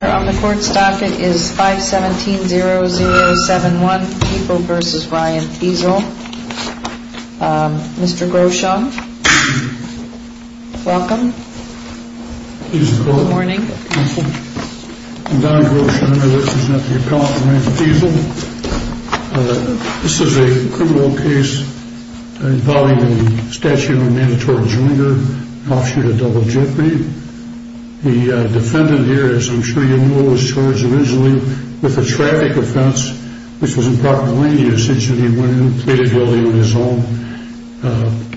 On the court's docket is 517-0071, Feezel v. Ryan Feezel. Mr. Grosham, welcome. Good morning. I'm Don Grosham. I represent the appellant, Ryan Feezel. This is a criminal case involving a statute of mandatory junior, an offshoot of double jeopardy. The defendant here, as I'm sure you know, was charged originally with a traffic offense, which was improper lane usage, and he went in and pleaded guilty on his own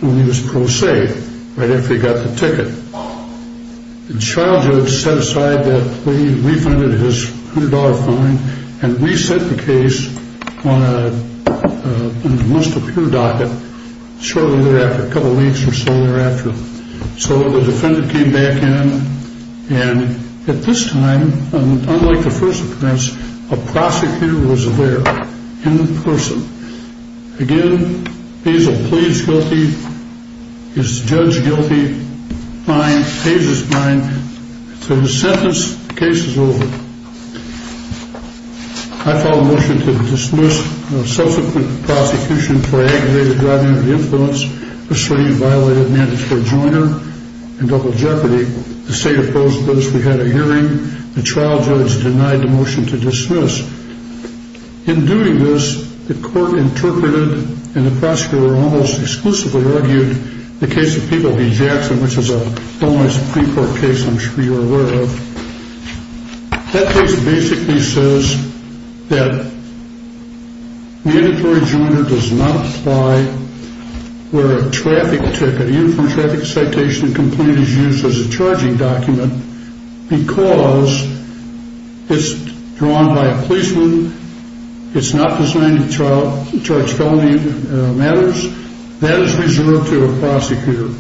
when he was pro se, right after he got the ticket. The child judge set aside that plea, refunded his $100 fine, and reset the case on a must-appear docket shortly thereafter, a couple weeks or so thereafter. So the defendant came back in, and at this time, unlike the first appearance, a prosecutor was there, in person. Again, Feezel pleads guilty, is judged guilty, fine, pays his fine, so the sentence, the case is over. I file a motion to dismiss the subsequent prosecution for aggravated driving under the influence of sleeve-violated mandatory junior and double jeopardy. The state opposed this. We had a hearing. The child judge denied the motion to dismiss. In doing this, the court interpreted and the prosecutor almost exclusively argued the case of Peabody Jackson, which is a homeless pre-court case I'm sure you're aware of. That case basically says that mandatory junior does not apply where a traffic ticket, even from traffic citation and complaint, is used as a charging document because it's drawn by a policeman, it's not designed to charge felony matters. That is reserved to a prosecutor.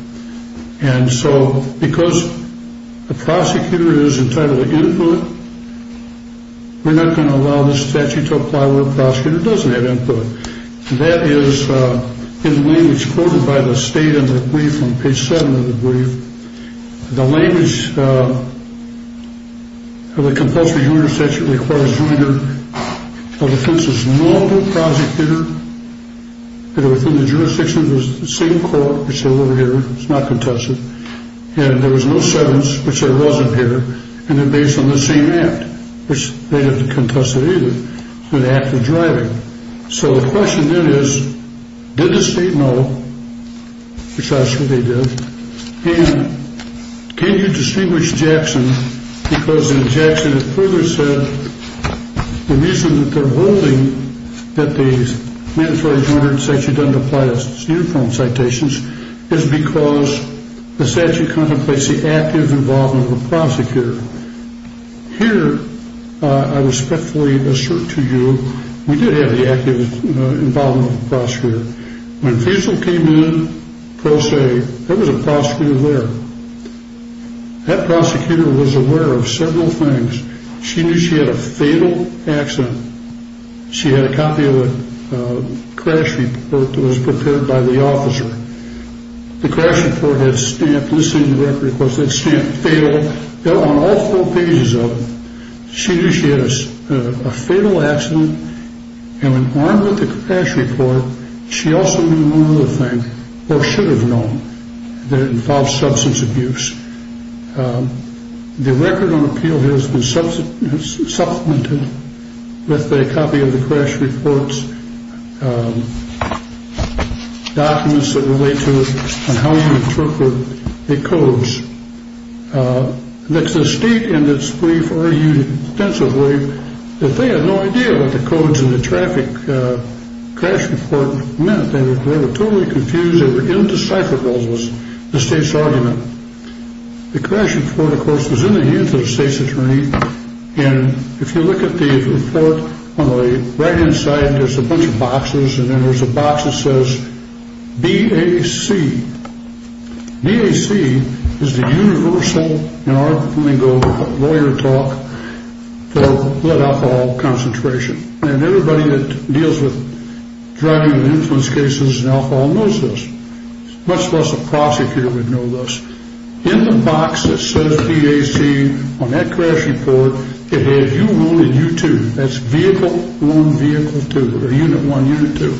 And so because the prosecutor is entitled to input, we're not going to allow this statute to apply where a prosecutor doesn't have input. That is in the language quoted by the state in the brief on page 7 of the brief. The language of the compulsory junior statute requires either a defense's normal prosecutor, and within the jurisdiction of the same court, which is over here, it's not contested, and there was no sentence, which there wasn't here, and then based on the same act, which they didn't contest it either, the act of driving. So the question then is, did the state know, which that's what they did, and can you distinguish Jackson because in Jackson it further said the reason that they're holding that the mandatory junior statute doesn't apply to uniform citations is because the statute contemplates the active involvement of the prosecutor. Here, I respectfully assert to you, we did have the active involvement of the prosecutor. When Faisal came in, pro se, there was a prosecutor there. That prosecutor was aware of several things. She knew she had a fatal accident. She had a copy of a crash report that was prepared by the officer. The crash report had a stamp. This isn't a record, of course. It's stamped fatal. They're on all four pages of it. She knew she had a fatal accident, and when armed with the crash report, she also knew one other thing, or should have known, that it involved substance abuse. The record on appeal has been supplemented with a copy of the crash reports, documents that relate to it, and how you interpret the codes. The state, in its brief, argued extensively that they had no idea what the codes in the traffic crash report meant. They were totally confused. They were indecipherable, was the state's argument. The crash report, of course, was in the hands of the state's attorney, and if you look at the report, on the right-hand side, there's a bunch of boxes, and then there's a box that says BAC. BAC is the universal, in our lingo, lawyer talk for blood alcohol concentration, and everybody that deals with drug and influence cases and alcohol knows this. Much less a prosecutor would know this. In the box that says BAC, on that crash report, it had U1 and U2. That's vehicle 1, vehicle 2, or unit 1, unit 2.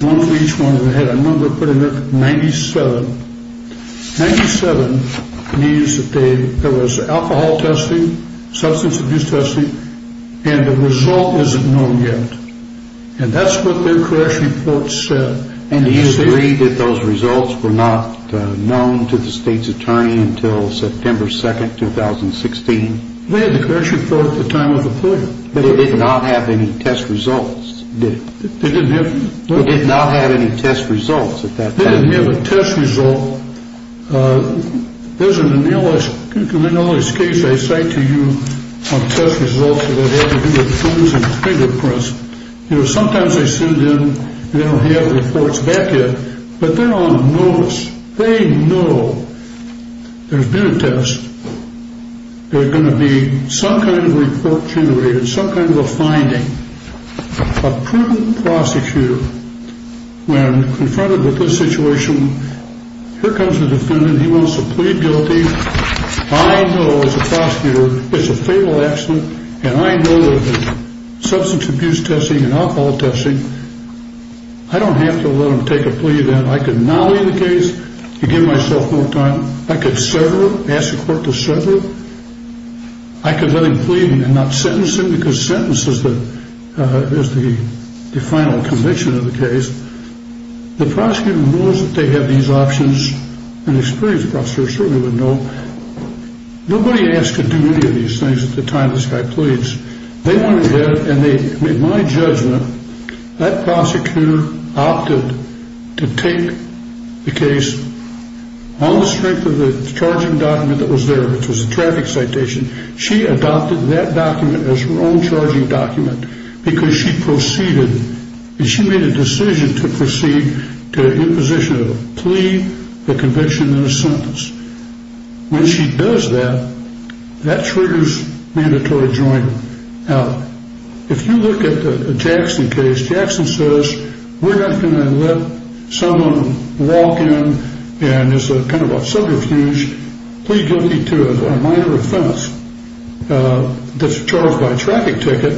One for each one, and it had a number put in there, 97. 97 means that there was alcohol testing, substance abuse testing, and the result isn't known yet. And that's what their crash report said. And do you agree that those results were not known to the state's attorney until September 2, 2016? They had the crash report at the time of the point. But it did not have any test results, did it? It did not have any test results at that time. They didn't have a test result. There's an anomalous case I cite to you of test results that have to do with tools and fingerprints. You know, sometimes they send in and they don't have reports back yet, but they're on a notice. They know there's been a test. There's going to be some kind of report generated, some kind of a finding. A proven prosecutor, when confronted with this situation, here comes the defendant. He wants to plead guilty. I know as a prosecutor it's a fatal accident, and I know that the substance abuse testing and alcohol testing, I don't have to let him take a plea then. I could nolly the case and give myself more time. I could sever it, ask the court to sever it. I could let him plead and not sentence him because sentence is the final conviction of the case. The prosecutor knows that they have these options. An experienced prosecutor certainly would know. Nobody asked to do any of these things at the time this guy pleads. They went ahead and they, in my judgment, that prosecutor opted to take the case on the strength of the charging document that was there, which was a traffic citation. She adopted that document as her own charging document because she proceeded. She made a decision to proceed to imposition of a plea, a conviction, and a sentence. When she does that, that triggers mandatory joint. Now, if you look at the Jackson case, Jackson says, we're not going to let someone walk in and it's kind of a subterfuge, plea guilty to a minor offense that's charged by a traffic ticket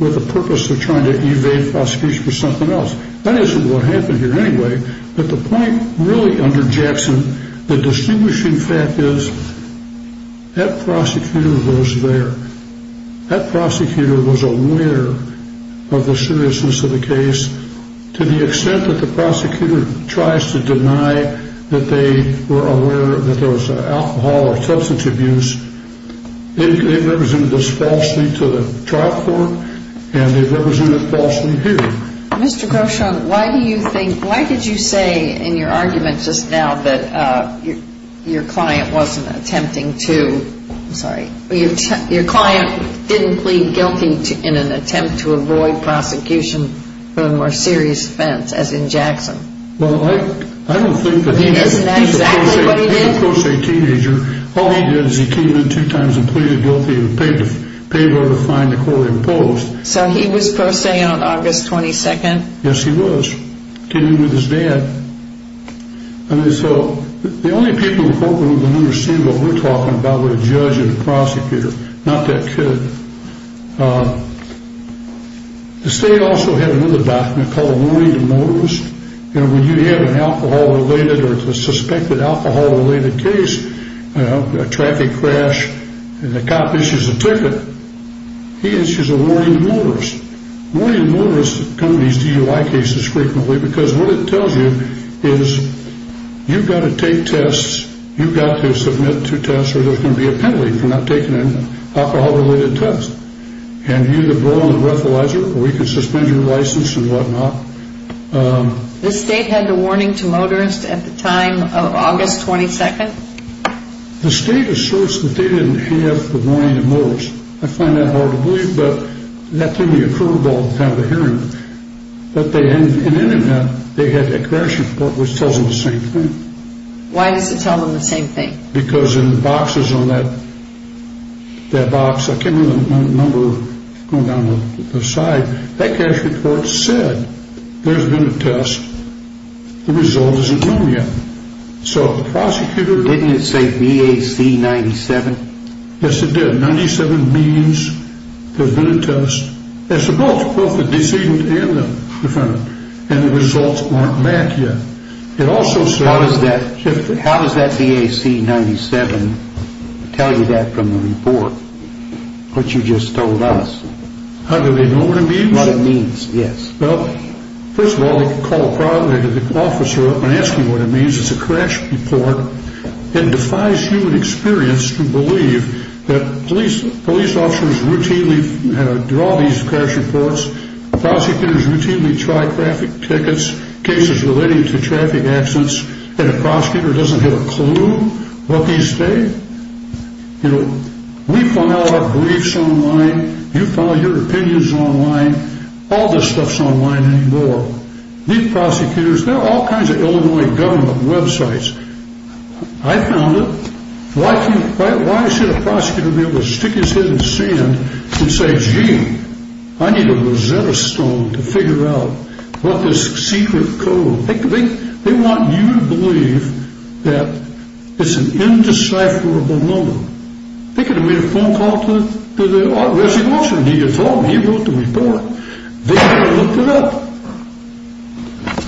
with the purpose of trying to evade prosecution for something else. That isn't what happened here anyway. But the point really under Jackson, the distinguishing fact is that prosecutor was there. There was alcohol or substance abuse. They represented this falsely to the trial court, and they represented it falsely here. Mr. Groshon, why do you think, why did you say in your argument just now that your client wasn't attempting to, I'm sorry, your client didn't plead guilty in an attempt to avoid prosecution for a more serious offense, as in Jackson? Well, I don't think that he did. He's a pro se teenager. All he did is he came in two times and pleaded guilty and paid the fine the court imposed. So he was pro se on August 22nd? Yes, he was. Came in with his dad. And so the only people in the courtroom that understand what we're talking about were a judge and a prosecutor. Not that kid. The state also had another document called warning to motorists. You know, when you have an alcohol-related or suspected alcohol-related case, a traffic crash, and the cop issues a ticket, he issues a warning to motorists. Warning to motorists come to these DUI cases frequently because what it tells you is you've got to take tests, you've got to submit to tests or there's going to be a penalty for not taking an alcohol-related test. And you either blow on the breathalyzer or we can suspend your license and whatnot. The state had the warning to motorists at the time of August 22nd? The state asserts that they didn't have the warning to motorists. I find that hard to believe, but that thing occurred with all the time of the hearing. But in any event, they had a crash report which tells them the same thing. Why does it tell them the same thing? Because in the boxes on that box, I can't remember the number going down the side, that crash report said there's been a test, the result isn't known yet. So the prosecutor... Didn't it say VAC 97? Yes, it did. 97 means there's been a test. It's both, both the decedent and the defendant. And the results aren't back yet. It also says... How does that VAC 97 tell you that from the report, what you just told us? How do they know what it means? What it means, yes. Well, first of all, they could call a private officer up and ask him what it means. It's a crash report. It defies human experience to believe that police officers routinely draw these crash reports, prosecutors routinely try traffic tickets, cases relating to traffic accidents, and a prosecutor doesn't get a clue what these say? You know, we file our briefs online, you file your opinions online, all this stuff's online anymore. These prosecutors, there are all kinds of Illinois government websites. I found it. Why should a prosecutor be able to stick his head in the sand and say, gee, I need a Rosetta Stone to figure out what this secret code... They want you to believe that it's an indecipherable number. They could have made a phone call to the authority. He told them he wrote the report. They could have looked it up.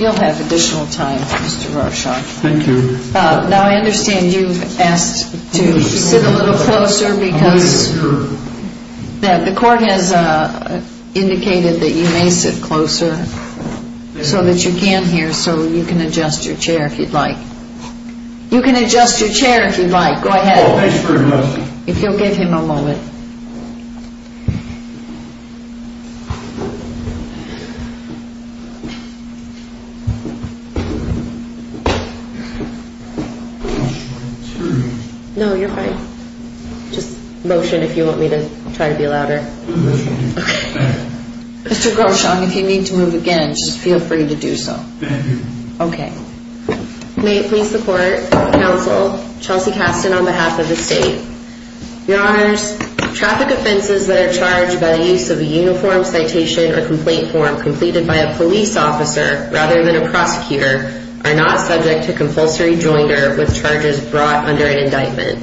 You'll have additional time, Mr. Rorschach. Thank you. Now I understand you've asked to sit a little closer because the court has indicated that you may sit closer so that you can hear so you can adjust your chair if you'd like. You can adjust your chair if you'd like. Go ahead. Thank you very much. If you'll give him a moment. I'm sorry. No, you're fine. Just motion if you want me to try to be louder. Motion. Okay. Mr. Groshon, if you need to move again, just feel free to do so. Thank you. Okay. May it please the court, counsel, Chelsea Caston on behalf of the state. Your honors, traffic offenses that are charged by the use of a uniform citation or complaint form completed by a police officer rather than a prosecutor are not subject to compulsory jointer with charges brought under an indictment.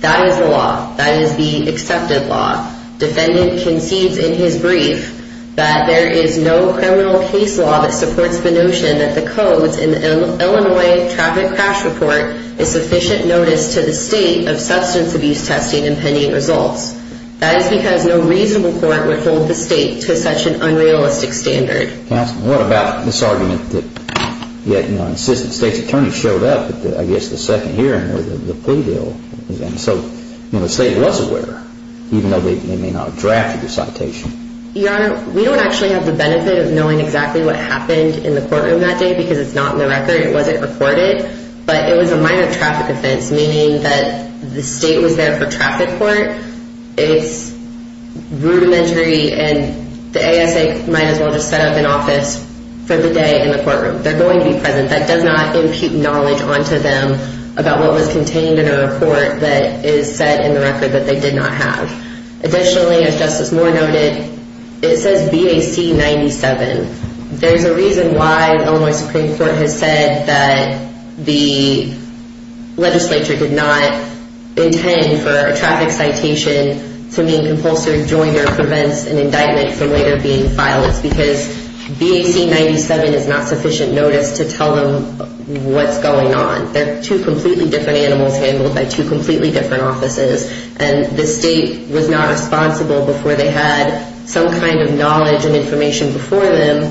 That is the law. That is the accepted law. Defendant concedes in his brief that there is no criminal case law that supports the notion that the codes in the Illinois traffic crash report is sufficient notice to the state of substance abuse testing and pending results. That is because no reasonable court would hold the state to such an unrealistic standard. Counsel, what about this argument that, you know, an assistant state's attorney showed up at the, I guess, the second hearing or the plea deal. And so, you know, the state was aware, even though they may not have drafted the citation. Your honor, we don't actually have the benefit of knowing exactly what happened in the courtroom that day because it's not in the record. It wasn't recorded. But it was a minor traffic offense, meaning that the state was there for traffic court. It's rudimentary and the ASA might as well just set up an office for the day in the courtroom. They're going to be present. That does not impute knowledge onto them about what was contained in a report that is set in the record that they did not have. Additionally, as Justice Moore noted, it says BAC 97. There's a reason why the Illinois Supreme Court has said that the legislature did not intend for a traffic citation to mean compulsory joiner prevents an indictment from later being filed. It's because BAC 97 is not sufficient notice to tell them what's going on. They're two completely different animals handled by two completely different offices. And the state was not responsible before they had some kind of knowledge and information before them.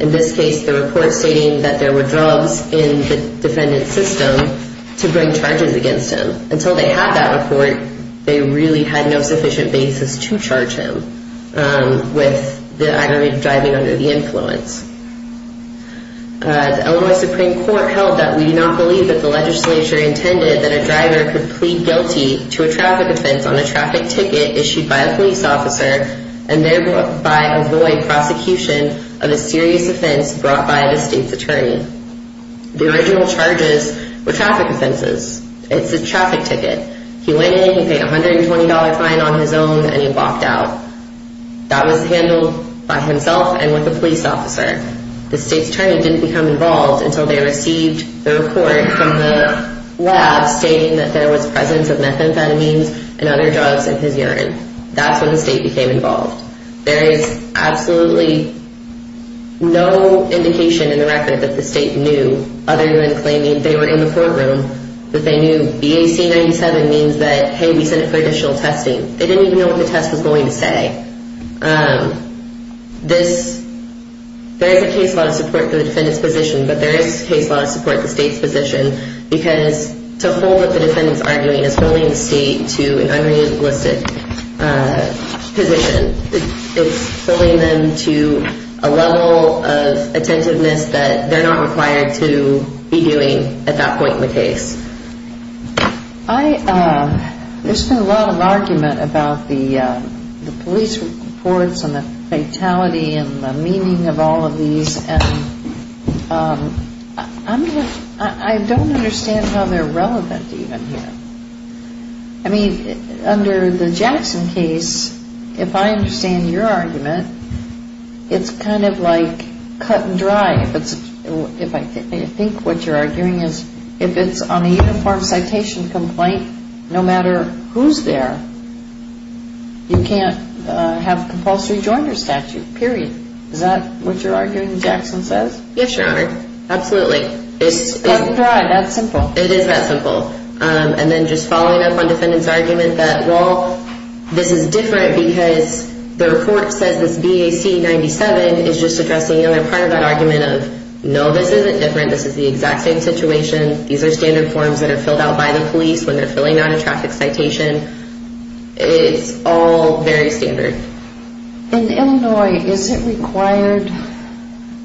In this case, the report stating that there were drugs in the defendant's system to bring charges against him. Until they had that report, they really had no sufficient basis to charge him with the act of driving under the influence. The Illinois Supreme Court held that we do not believe that the legislature intended that a driver could plead guilty to a traffic offense on a traffic ticket issued by a police officer and thereby avoid prosecution of a serious offense brought by the state's attorney. The original charges were traffic offenses. It's a traffic ticket. He went in, he paid a $120 fine on his own, and he walked out. That was handled by himself and with a police officer. The state's attorney didn't become involved until they received the report from the lab stating that there was presence of methamphetamines and other drugs in his urine. That's when the state became involved. There is absolutely no indication in the record that the state knew other than claiming they were in the courtroom that they knew BAC 97 means that, hey, we sent it for additional testing. They didn't even know what the test was going to say. There is a case law to support the defendant's position, but there is a case law to support the state's position because to hold what the defendant's arguing is holding the state to an unrealistic position. It's holding them to a level of attentiveness that they're not required to be doing at that point in the case. There's been a lot of argument about the police reports and the fatality and the meaning of all of these, and I don't understand how they're relevant even here. I mean, under the Jackson case, if I understand your argument, it's kind of like cut and dry. I think what you're arguing is if it's on a uniform citation complaint, no matter who's there, you can't have compulsory joiner statute, period. Is that what you're arguing Jackson says? Yes, Your Honor. Absolutely. Cut and dry. That simple. It is that simple. And then just following up on the defendant's argument that, well, this is different because the report says this BAC 97 is just addressing another part of that argument of, no, this isn't different. This is the exact same situation. These are standard forms that are filled out by the police when they're filling out a traffic citation. It's all very standard. In Illinois, is it required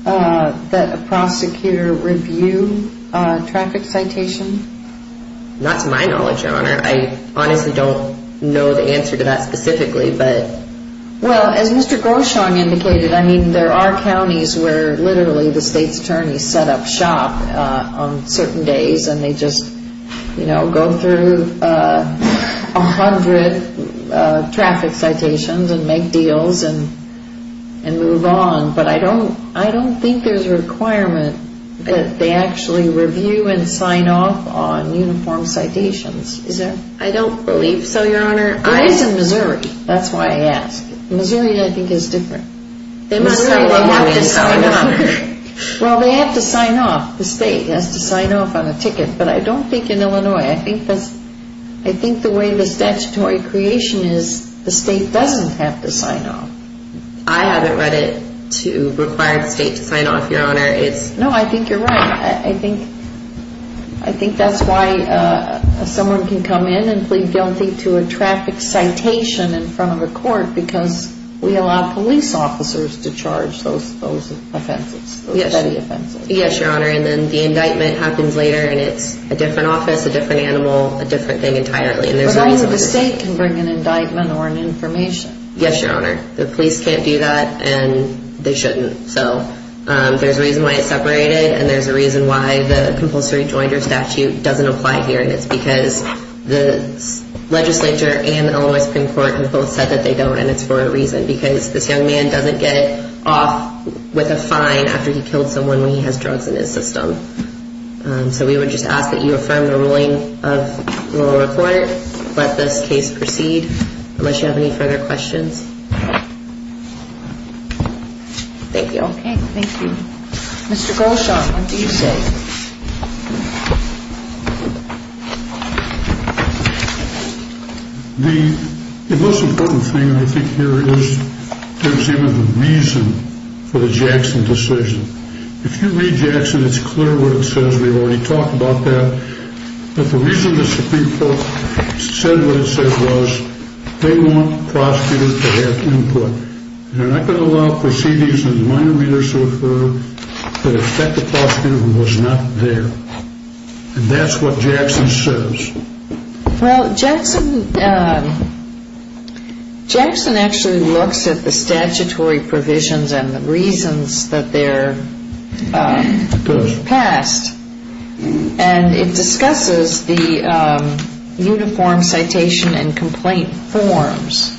that a prosecutor review a traffic citation? Not to my knowledge, Your Honor. I honestly don't know the answer to that specifically. Well, as Mr. Gorshaw indicated, there are counties where literally the state's attorneys set up shop on certain days and they just go through a hundred traffic citations and make deals and move on. But I don't think there's a requirement that they actually review and sign off on uniform citations. I don't believe so, Your Honor. It is in Missouri. That's why I ask. Missouri, I think, is different. Missouri, they have to sign off. Well, they have to sign off. The state has to sign off on a ticket. But I don't think in Illinois. I think the way the statutory creation is, the state doesn't have to sign off. I haven't read it to require the state to sign off, Your Honor. No, I think you're right. I think that's why someone can come in and plead guilty to a traffic citation in front of a court because we allow police officers to charge those offenses, those petty offenses. Yes, Your Honor. And then the indictment happens later and it's a different office, a different animal, a different thing entirely. But either the state can bring an indictment or an information. Yes, Your Honor. The police can't do that and they shouldn't. So there's a reason why it's separated and there's a reason why the compulsory joinder statute doesn't apply here, and it's because the legislature and Illinois Supreme Court have both said that they don't, and it's for a reason because this young man doesn't get off with a fine after he killed someone when he has drugs in his system. So we would just ask that you affirm the ruling of the lower court, let this case proceed, unless you have any further questions. Thank you. Okay. Thank you. Mr. Gershon, what do you say? The most important thing I think here is there's even a reason for the Jackson decision. If you read Jackson, it's clear what it says. We've already talked about that. But the reason the Supreme Court said what it said was they want prosecutors to have input. They're not going to allow proceedings with minor readers to occur that affect the prosecutor who was not there. And that's what Jackson says. Well, Jackson actually looks at the statutory provisions and the reasons that they're passed, and it discusses the uniform citation and complaint forms,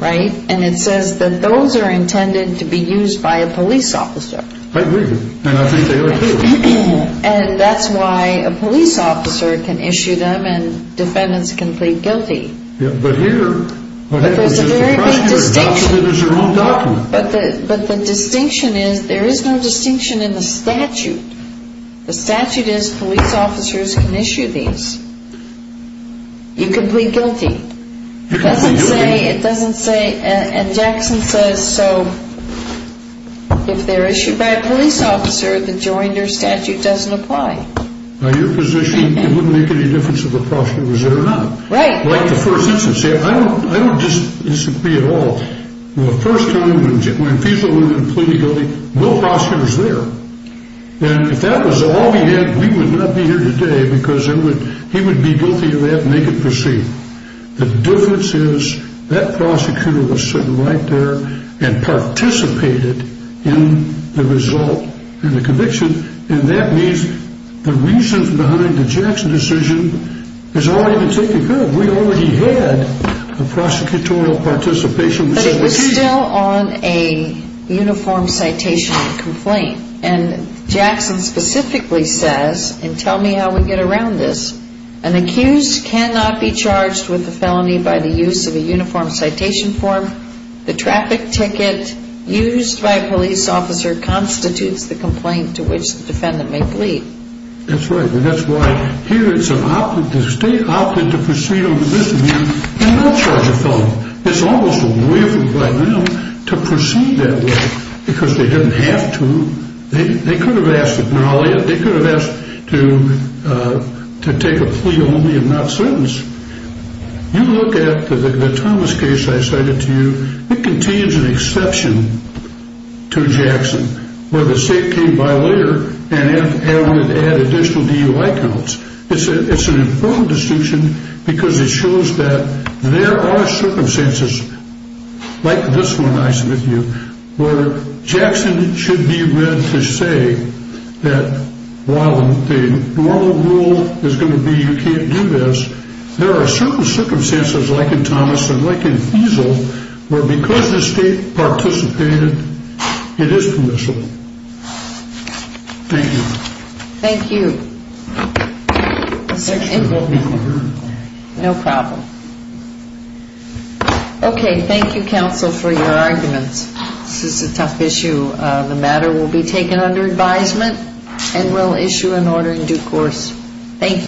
right? And it says that those are intended to be used by a police officer. I believe it, and I think they are, too. And that's why a police officer can issue them and defendants can plead guilty. Yeah, but here, what happens is the prosecutor adopts it as their own document. But the distinction is there is no distinction in the statute. The statute is police officers can issue these. You can plead guilty. It doesn't say, and Jackson says, so if they're issued by a police officer, the joinder statute doesn't apply. Now, your position, it wouldn't make any difference if the prosecutor was there or not. Right. Like the first instance. I don't disagree at all. The first time when FISA went in and pleaded guilty, no prosecutor was there. And if that was all we had, we would not be here today because he would be guilty of that and make it proceed. The difference is that prosecutor was sitting right there and participated in the result and the conviction, and that means the reasons behind the Jackson decision is all even taken care of. We already had the prosecutorial participation. But it was still on a uniform citation complaint. And Jackson specifically says, and tell me how we get around this, an accused cannot be charged with a felony by the use of a uniform citation form. The traffic ticket used by a police officer constitutes the complaint to which the defendant may plead. That's right. And that's why here it's an option to proceed on the misdemeanor and not charge a felony. It's almost a way for them to proceed that way because they didn't have to. They could have asked to acknowledge it. They could have asked to take a plea only if not sentenced. You look at the Thomas case I cited to you. It contains an exception to Jackson where the state came by later and added additional DUI counts. It's an important distinction because it shows that there are circumstances like this one I submit to you where Jackson should be read to say that while the normal rule is going to be you can't do this, there are certain circumstances like in Thomas and like in Fiesel where because the state participated, it is permissible. Thank you. Thank you. No problem. Okay, thank you, counsel, for your arguments. This is a tough issue. The matter will be taken under advisement and we'll issue an order in due course. Thank you.